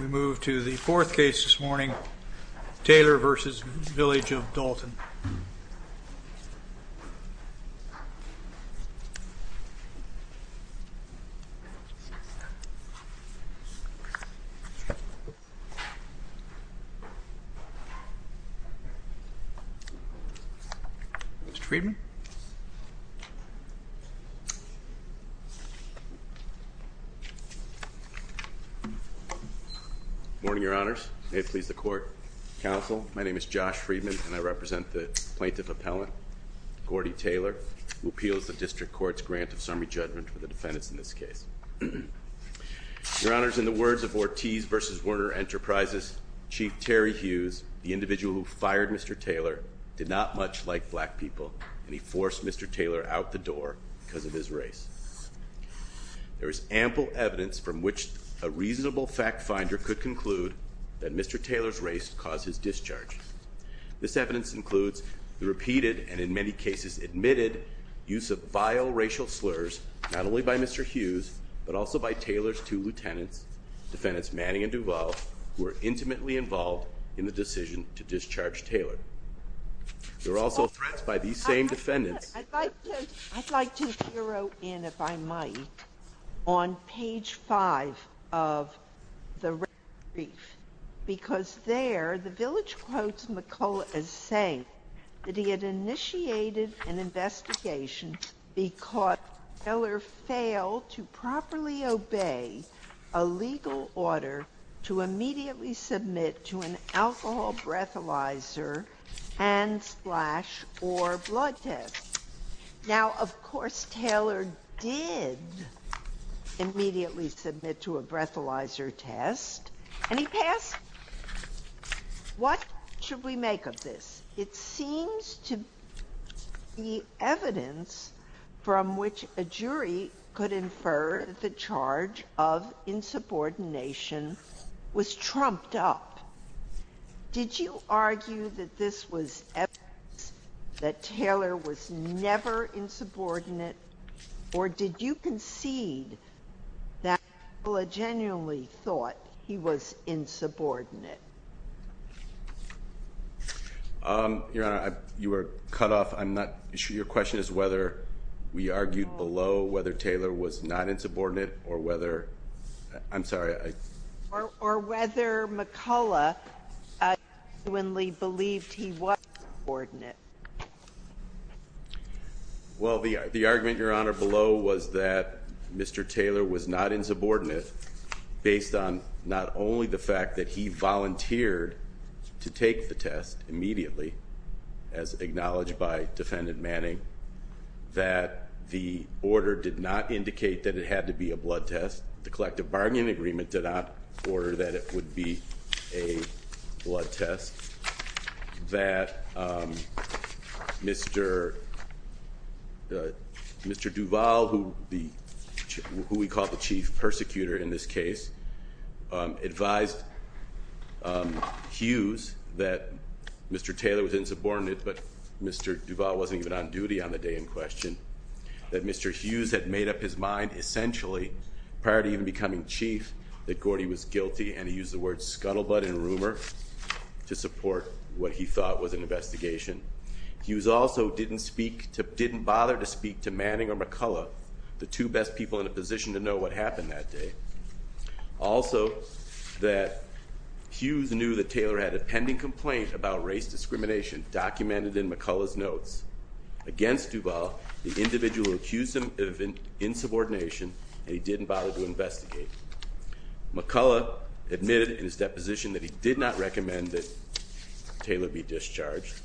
We move to the fourth case this morning, Taylor v. Village of Dalton. Morning, your honors. May it please the court, counsel. My name is Josh Friedman and I represent the plaintiff appellant, Gordie Taylor, who appeals the district court's grant of summary judgment for the defendants in this case. Your honors, in the words of Ortiz v. Werner Enterprises, Chief Terry Hughes, the individual who fired Mr. Taylor, did not much like black people, and he forced Mr. Taylor out the door because of his race. There is ample evidence from which a reasonable fact finder could conclude that Mr. Taylor's race caused his discharge. This evidence includes the repeated, and in many cases admitted, use of vile racial slurs, not only by Mr. Hughes, but also by Taylor's two lieutenants, defendants Manning and Duvall, who were intimately involved in the decision to discharge Taylor. You're also threatened by these same defendants. I'd like to zero in, if I might, on page five of the red brief, because there, the Village quotes McCulloch as saying that he had initiated an investigation because Taylor failed to properly obey a legal order to immediately submit to an alcohol breathalyzer, hand splash, or blood test. Now, of course, Taylor did immediately submit to a breathalyzer test, and he passed. What should we make of this? It seems to be evidence from which a jury could infer that the charge of insubordination was trumped up. Did you argue that this was evidence that Taylor was never insubordinate, or did you concede that McCulloch genuinely thought he was insubordinate? Your Honor, you were cut off. I'm not sure your question is whether we argued below whether Taylor was not insubordinate or whether, I'm sorry. Or whether McCulloch genuinely believed he was insubordinate. Well, the argument, Your Honor, below was that Mr. Taylor was not insubordinate based on not only the fact that he volunteered to take the test immediately, as acknowledged by Defendant Manning, that the order did not indicate that it had to be a blood test. The collective bargaining agreement did not order that it would be a blood test. That Mr. Duval, who we call the chief persecutor in this case, advised Hughes that Mr. Taylor was insubordinate, but Mr. Duval wasn't even on duty on the day in question. That Mr. Hughes had made up his mind essentially, prior to even becoming chief, that Gordy was guilty and he used the words scuttlebutt and rumor to support what he thought was an investigation. Hughes also didn't speak, didn't bother to speak to Manning or McCulloch, the two best people in a position to know what happened that day. Also that Hughes knew that Taylor had a pending complaint about race discrimination documented in McCulloch's notes. Against Duval, the individual accused him of insubordination and he didn't bother to investigate. McCulloch admitted in his deposition that he did not recommend that Taylor be discharged.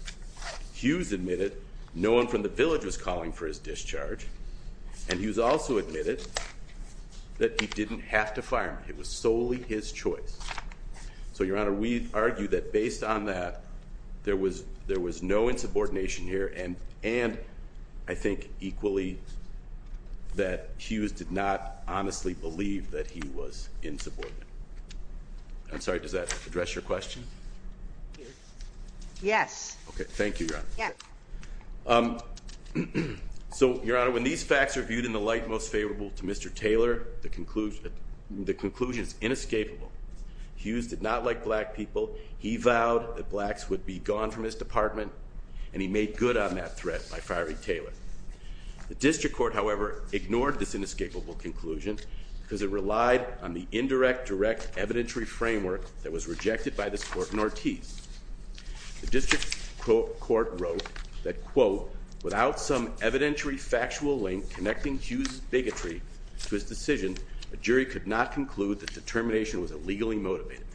Hughes admitted no one from the village was calling for his discharge, and Hughes also admitted that he didn't have to fire him. It was solely his choice. So, Your Honor, we argue that based on that, there was no insubordination here and I think equally that Hughes did not honestly believe that he was insubordinate. I'm sorry, does that address your question? Yes. Okay, thank you, Your Honor. Yeah. So, Your Honor, when these facts are viewed in the light most favorable to Mr. Taylor, the conclusion is inescapable. Hughes did not like black people. He vowed that blacks would be gone from his department and he made good on that threat by firing Taylor. The district court, however, ignored this inescapable conclusion because it relied on the indirect direct evidentiary framework that was rejected by this court in Ortiz. The district court wrote that, quote, without some evidentiary factual link connecting Hughes' bigotry to his decision, a jury could not conclude that the termination was illegally motivated.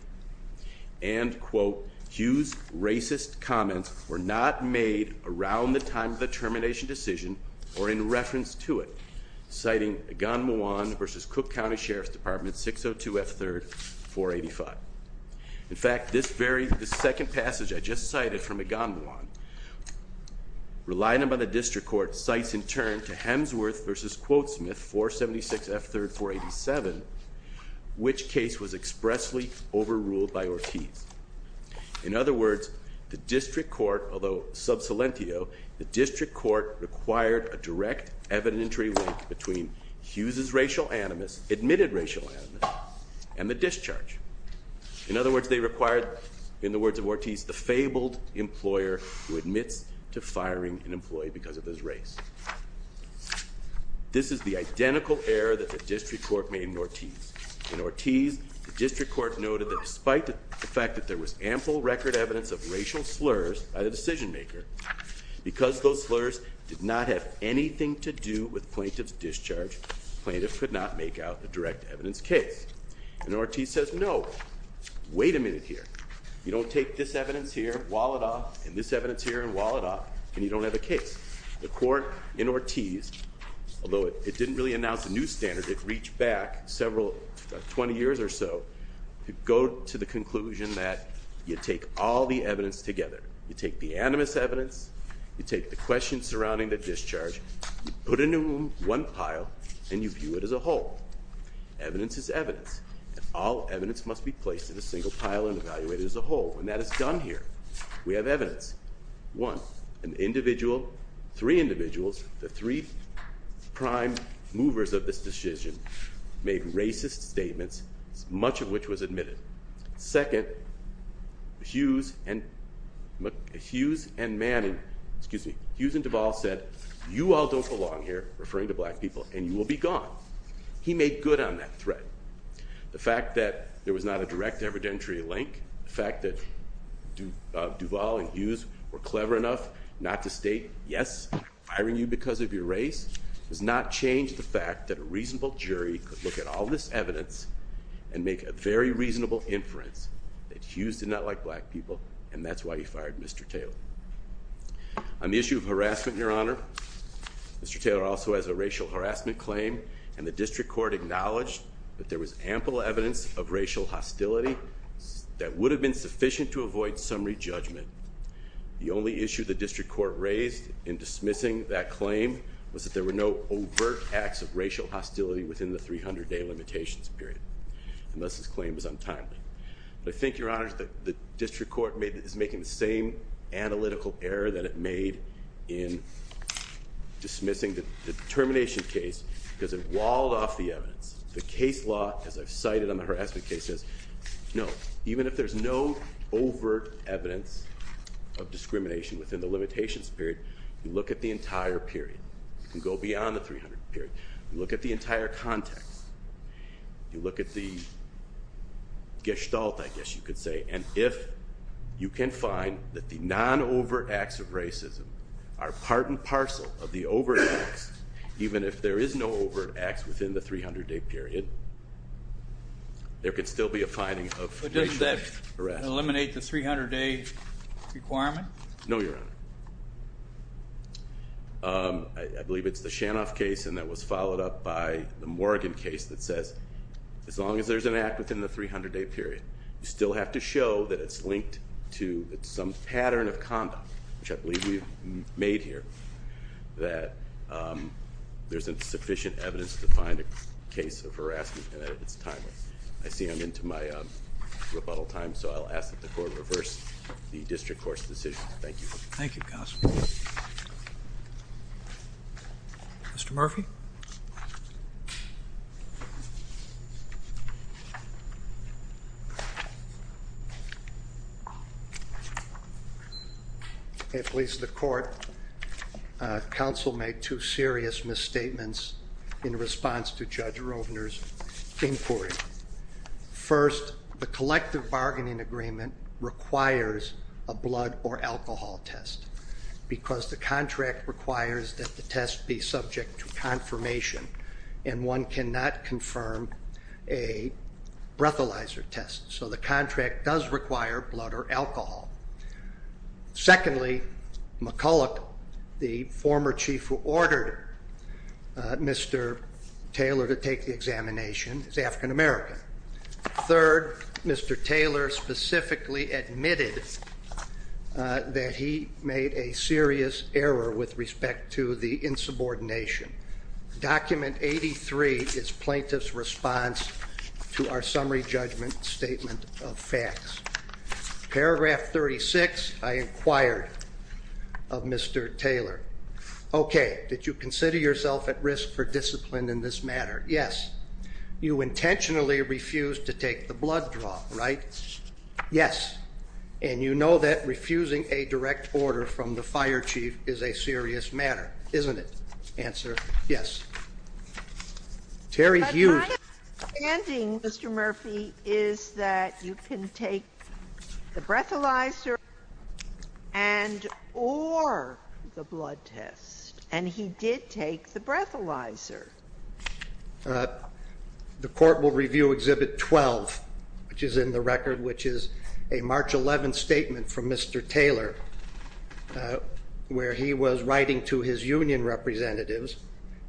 And, quote, Hughes' racist comments were not made around the time of the termination decision or in reference to it. Citing Egon Muwan versus Cook County Sheriff's Department 602F3-485. In fact, this very second passage I just cited from Egon Muwan, relying on the district court, cites in turn to Hemsworth versus Quotesmith 476F3-487, which case was expressly overruled by Ortiz. In other words, the district court, although sub salientio, the district court required a direct evidentiary link between Hughes' racial animus, admitted racial animus, and the discharge. In other words, they required, in the words of Ortiz, the fabled employer who admits to firing an employee because of his race. This is the identical error that the district court made in Ortiz. In Ortiz, the district court noted that despite the fact that there was ample record evidence of racial slurs by the decision maker, because those slurs did not have anything to do with plaintiff's discharge, plaintiff could not make out a direct evidence case. And Ortiz says, no, wait a minute here. You don't take this evidence here, wall it off, and this evidence here, and wall it off, and you don't have a case. The court in Ortiz, although it didn't really announce a new standard, it reached back several, 20 years or so, to go to the conclusion that you take all the evidence together. You take the animus evidence, you take the questions surrounding the discharge, you put it in one pile, and you view it as a whole. Evidence is evidence, and all evidence must be placed in a single pile and evaluated as a whole. And that is done here. We have evidence. One, an individual, three individuals, the three prime movers of this decision, made racist statements, much of which was admitted. Second, Hughes and Manning, excuse me, Hughes and Duvall said, you all don't belong here, referring to black people, and you will be gone. He made good on that threat. The fact that there was not a direct evidentiary link, the fact that Duvall and Hughes were clever enough not to state, yes, I'm firing you because of your race, does not change the fact that a reasonable jury could look at all this evidence and make a very reasonable inference that Hughes did not like black people, and that's why he fired Mr. Taylor. On the issue of harassment, Your Honor, Mr. Taylor also has a racial harassment claim, and the district court acknowledged that there was ample evidence of racial hostility that would have been sufficient to avoid summary judgment. The only issue the district court raised in dismissing that claim was that there were no overt acts of racial hostility within the 300-day limitations period, unless his claim was untimely. I think, Your Honor, the district court is making the same analytical error that it made in dismissing the termination case because it walled off the evidence. The case law, as I've cited on the harassment case, says, no, even if there's no overt evidence of discrimination within the limitations period, you look at the entire period. You can go beyond the 300-day period. You look at the entire context. You look at the gestalt, I guess you could say, and if you can find that the non-overt acts of racism are part and parcel of the overt acts, even if there is no overt acts within the 300-day period, there could still be a finding of racial harassment. But doesn't that eliminate the 300-day requirement? No, Your Honor. I believe it's the Shanoff case, and that was followed up by the Morgan case, that says, as long as there's an act within the 300-day period, you still have to show that it's linked to some pattern of conduct, which I believe we've made here, that there's sufficient evidence to find a case of harassment and that it's timely. I see I'm into my rebuttal time, so I'll ask that the court reverse the district court's decision. Thank you. Thank you, counsel. Mr. Murphy? At least the court, counsel made two serious misstatements in response to Judge Rovner's inquiry. First, the collective bargaining agreement requires a blood or alcohol test, because the contract requires that the test be subject to confirmation, and one cannot confirm a breathalyzer test. So the contract does require blood or alcohol. Secondly, McCulloch, the former chief who ordered Mr. Taylor to take the examination, is African-American. Third, Mr. Taylor specifically admitted that he made a serious error with respect to the insubordination. Document 83 is plaintiff's response to our summary judgment statement of facts. Paragraph 36, I inquired of Mr. Taylor. Okay, did you consider yourself at risk for discipline in this matter? Yes. You intentionally refused to take the blood draw, right? Yes. And you know that refusing a direct order from the fire chief is a serious matter, isn't it? Answer, yes. Terry Hughes. My understanding, Mr. Murphy, is that you can take the breathalyzer and or the blood test, and he did take the breathalyzer. The court will review Exhibit 12, which is in the record, which is a March 11 statement from Mr. Taylor, where he was writing to his union representatives,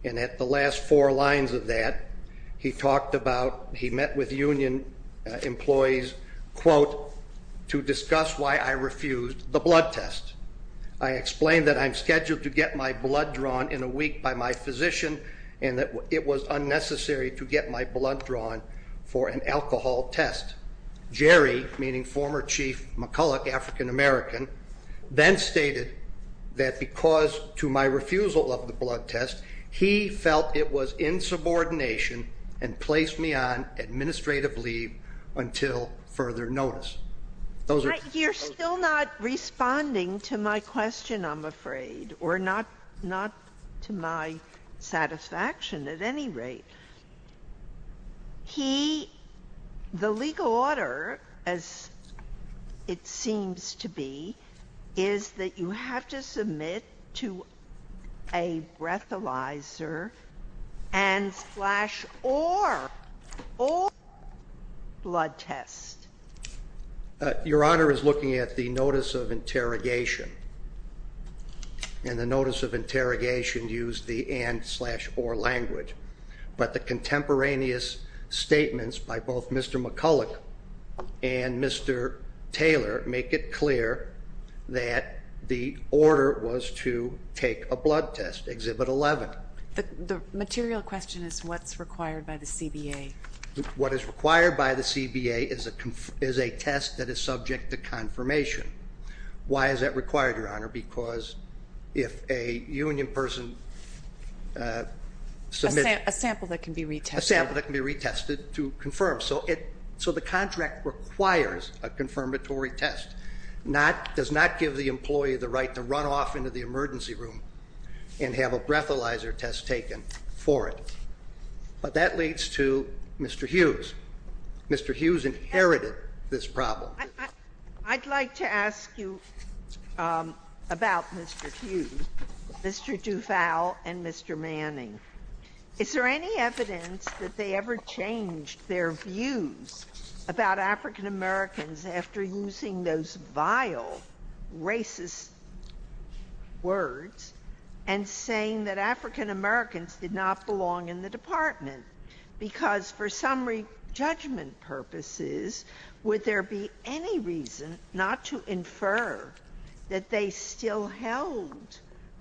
and at the last four lines of that, he talked about, he met with union employees, quote, to discuss why I refused the blood test. I explained that I'm scheduled to get my blood drawn in a week by my physician, and that it was unnecessary to get my blood drawn for an alcohol test. Jerry, meaning former Chief McCulloch, African-American, then stated that because to my refusal of the blood test, he felt it was insubordination and placed me on administrative leave until further notice. You're still not responding to my question, I'm afraid, or not to my satisfaction at any rate. He, the legal order, as it seems to be, is that you have to submit to a breathalyzer and slash or, or blood test. Your Honor is looking at the notice of interrogation, and the notice of interrogation used the and slash or language, but the contemporaneous statements by both Mr. McCulloch and Mr. Taylor make it clear that the order was to take a blood test, Exhibit 11. The material question is what's required by the CBA. What is required by the CBA is a test that is subject to confirmation. Why is that required, Your Honor? Because if a union person submits- A sample that can be retested. A sample that can be retested to confirm. So it, so the contract requires a confirmatory test. Not, does not give the employee the right to run off into the emergency room and have a breathalyzer test taken for it. But that leads to Mr. Hughes. Mr. Hughes inherited this problem. I'd like to ask you about Mr. Hughes, Mr. Duval, and Mr. Manning. Is there any evidence that they ever changed their views about African Americans after using those vile, racist words and saying that African Americans did not belong in the department? Because for summary judgment purposes, would there be any reason not to infer that they still held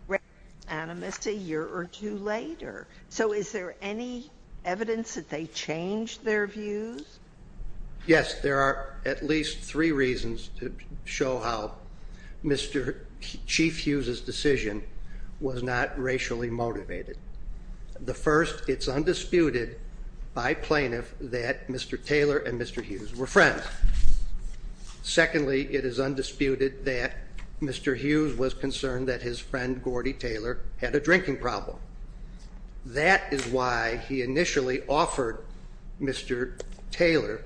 racial animus a year or two later? So is there any evidence that they changed their views? Yes, there are at least three reasons to show how Mr. Chief Hughes's decision was not racially motivated. The first, it's undisputed by plaintiff that Mr. Taylor and Mr. Hughes were friends. Secondly, it is undisputed that Mr. Hughes was concerned that his friend Gordy Taylor had a drinking problem. That is why he initially offered Mr. Taylor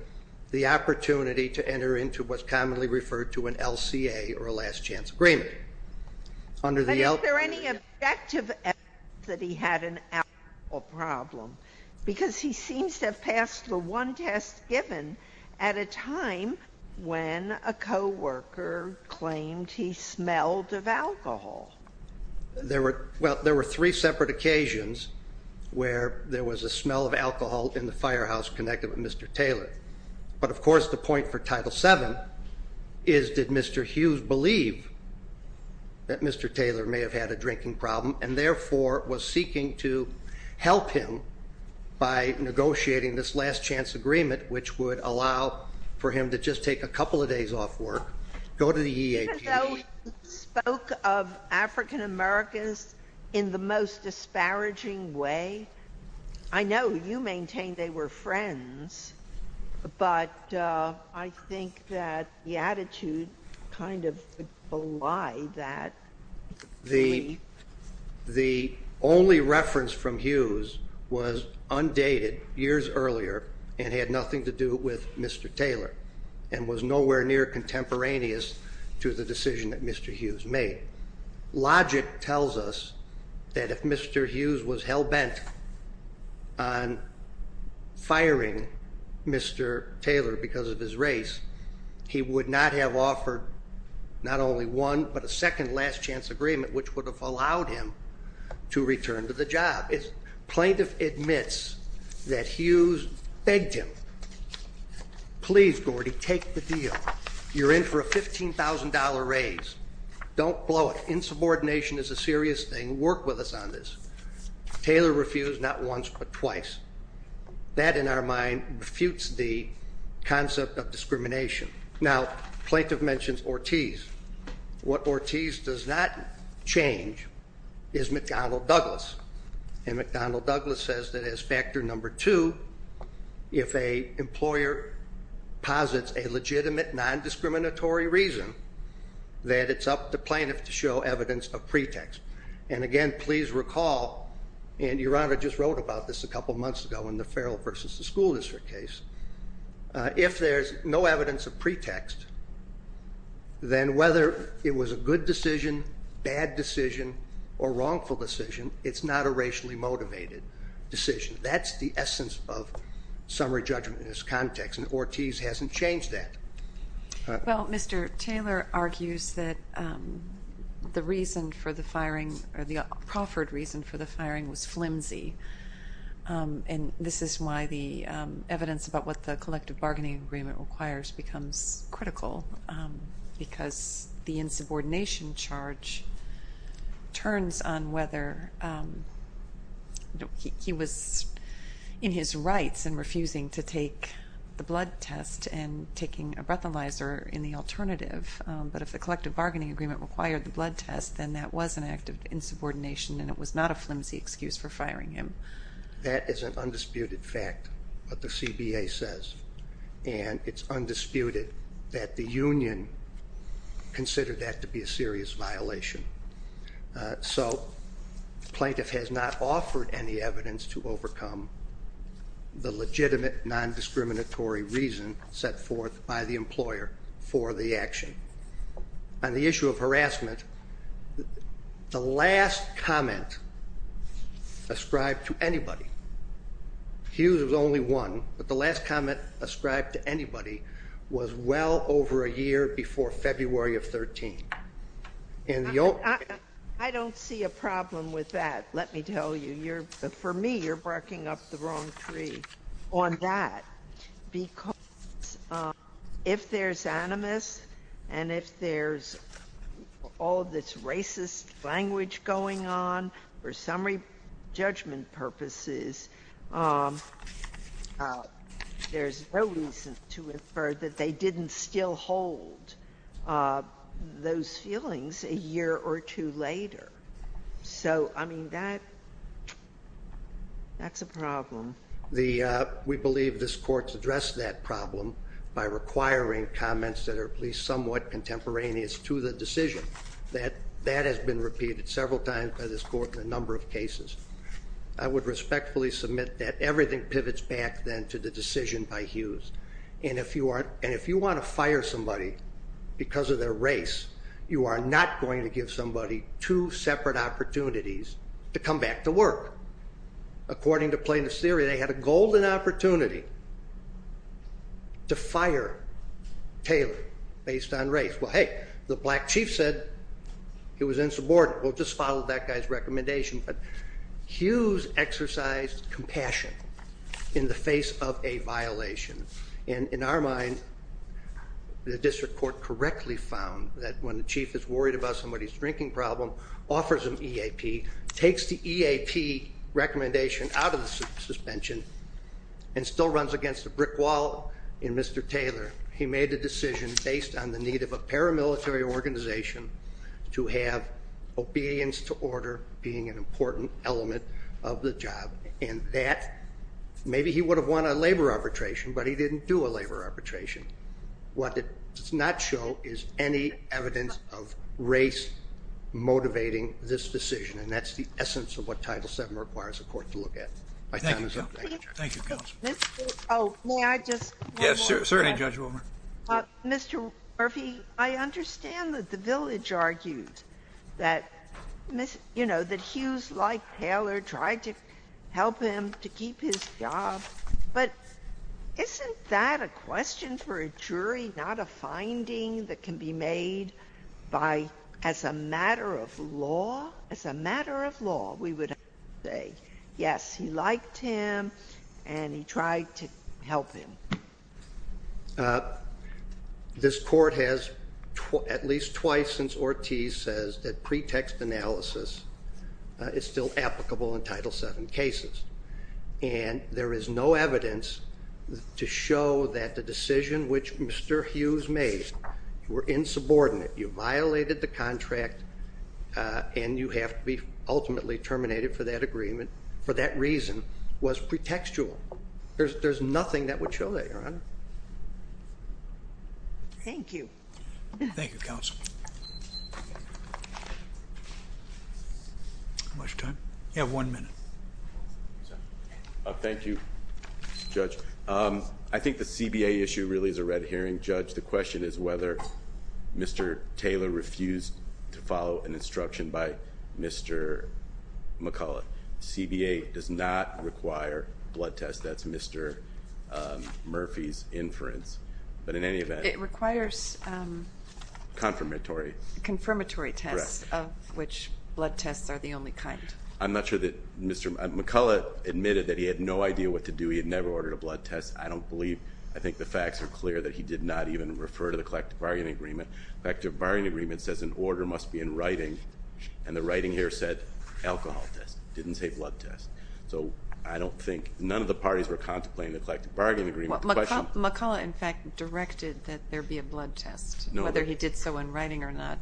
the opportunity to enter into what's commonly referred to an LCA, or a last chance agreement. But is there any objective evidence that he had an alcohol problem? Because he seems to have passed the one test given at a time when a co-worker claimed he smelled of alcohol. Well, there were three separate occasions where there was a smell of alcohol in the firehouse connected with Mr. Taylor. But of course, the point for Title VII is did Mr. Hughes believe that Mr. Taylor may have had a drinking problem and therefore was seeking to help him by negotiating this last chance agreement, which would allow for him to just take a couple of days off work, go to the EAP. Even though he spoke of African-Americans in the most disparaging way, I know you maintain they were friends, but I think that the attitude kind of belied that. The only reference from Hughes was undated years earlier and had nothing to do with Mr. Taylor and was nowhere near contemporaneous to the decision that Mr. Hughes made. Logic tells us that if Mr. Hughes was hell-bent on firing Mr. Taylor because of his race, he would not have offered not only one, but a second last chance agreement, which would have allowed him to return to the job. Plaintiff admits that Hughes begged him, please, Gordy, take the deal. You're in for a $15,000 raise. Don't blow it. Insubordination is a serious thing. Work with us on this. Taylor refused not once but twice. That in our mind refutes the concept of discrimination. Now, plaintiff mentions Ortiz. What Ortiz does not change is McDonnell Douglas. And McDonnell Douglas says that as factor number two, if an employer posits a legitimate, non-discriminatory reason, that it's up to plaintiff to show evidence of pretext. And again, please recall, and Your Honor just wrote about this a couple months ago in the Farrell v. the School District case, if there's no evidence of pretext, then whether it was a good decision, bad decision, or wrongful decision, it's not a racially motivated decision. That's the essence of summary judgment in this context, and Ortiz hasn't changed that. Well, Mr. Taylor argues that the reason for the firing or the proffered reason for the firing was flimsy. And this is why the evidence about what the collective bargaining agreement requires becomes critical, because the insubordination charge turns on whether he was in his rights and refusing to take the blood test and taking a breathalyzer in the alternative. But if the collective bargaining agreement required the blood test, then that was an act of insubordination and it was not a flimsy excuse for firing him. That is an undisputed fact, what the CBA says. And it's undisputed that the union considered that to be a serious violation. So the plaintiff has not offered any evidence to overcome the legitimate, non-discriminatory reason set forth by the employer for the action. On the issue of harassment, the last comment ascribed to anybody, Hughes was only one, but the last comment ascribed to anybody was well over a year before February of 13. I don't see a problem with that, let me tell you. For me, you're barking up the wrong tree on that, because if there's animus and if there's all this racist language going on for summary judgment purposes, there's no reason to infer that they didn't still hold those feelings a year or two later. So, I mean, that's a problem. We believe this Court's addressed that problem by requiring comments that are at least somewhat contemporaneous to the decision. That has been repeated several times by this Court in a number of cases. I would respectfully submit that everything pivots back then to the decision by Hughes. And if you want to fire somebody because of their race, you are not going to give somebody two separate opportunities to come back to work. According to plaintiff's theory, they had a golden opportunity to fire Taylor based on race. Well, hey, the black chief said he was insubordinate. Well, just follow that guy's recommendation. But Hughes exercised compassion in the face of a violation. And in our mind, the district court correctly found that when the chief is worried about somebody's drinking problem, offers them EAP, takes the EAP recommendation out of the suspension, and still runs against a brick wall in Mr. Taylor, he made a decision based on the need of a paramilitary organization to have obedience to order being an important element of the job. And that, maybe he would have won a labor arbitration, but he didn't do a labor arbitration. What it does not show is any evidence of race motivating this decision. And that's the essence of what Title VII requires a court to look at. Thank you, counsel. May I just add one more thing? Yes, certainly, Judge Wilmer. Mr. Murphy, I understand that the village argues that, you know, that Hughes, like Taylor, tried to help him to keep his job. But isn't that a question for a jury, not a finding that can be made by, as a matter of law, as a matter of law, we would say, yes, he liked him and he tried to help him. This court has at least twice since Ortiz says that pretext analysis is still applicable in Title VII cases. And there is no evidence to show that the decision which Mr. Hughes made, you were insubordinate, you violated the contract, and you have to be ultimately terminated for that agreement, for that reason, was pretextual. There's nothing that would show that, Your Honor. Thank you. Thank you, counsel. How much time? You have one minute. Thank you, Judge. I think the CBA issue really is a red herring, Judge. The question is whether Mr. Taylor refused to follow an instruction by Mr. McCullough. CBA does not require blood tests. That's Mr. Murphy's inference. But in any event. It requires confirmatory tests, of which blood tests are the only kind. I'm not sure that Mr. McCullough admitted that he had no idea what to do. He had never ordered a blood test. I don't believe. I think the facts are clear that he did not even refer to the collective bargaining agreement. The collective bargaining agreement says an order must be in writing, and the writing here said alcohol test. It didn't say blood test. So I don't think none of the parties were contemplating the collective bargaining agreement. McCullough, in fact, directed that there be a blood test, whether he did so in writing or not.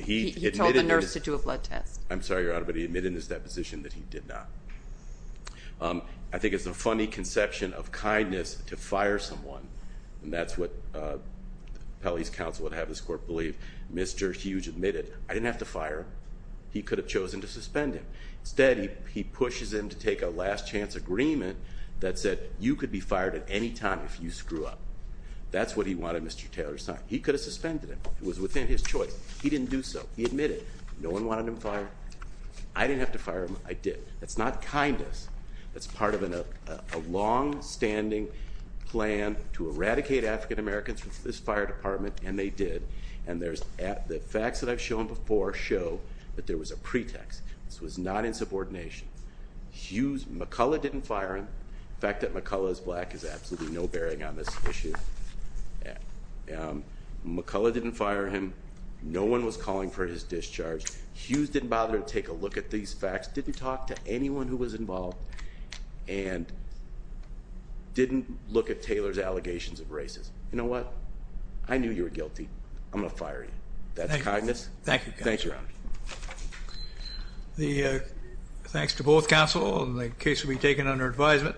He told the nurse to do a blood test. I'm sorry, Your Honor, but he admitted in his deposition that he did not. I think it's a funny conception of kindness to fire someone, and that's what Pelley's counsel would have this court believe. Mr. Hughes admitted, I didn't have to fire him. He could have chosen to suspend him. Instead, he pushes him to take a last chance agreement that said, you could be fired at any time if you screw up. That's what he wanted Mr. Taylor signed. He could have suspended him. It was within his choice. He didn't do so. He admitted. No one wanted him fired. I didn't have to fire him. I did. That's not kindness. That's part of a longstanding plan to eradicate African Americans from this fire department, and they did. And the facts that I've shown before show that there was a pretext. This was not in subordination. Hughes, McCullough didn't fire him. The fact that McCullough is black is absolutely no bearing on this issue. McCullough didn't fire him. No one was calling for his discharge. Hughes didn't bother to take a look at these facts. Didn't talk to anyone who was involved. And didn't look at Taylor's allegations of racism. You know what? I knew you were guilty. I'm going to fire you. That's kindness. Thank you. Thanks, Your Honor. Thanks to both counsel. The case will be taken under advisement.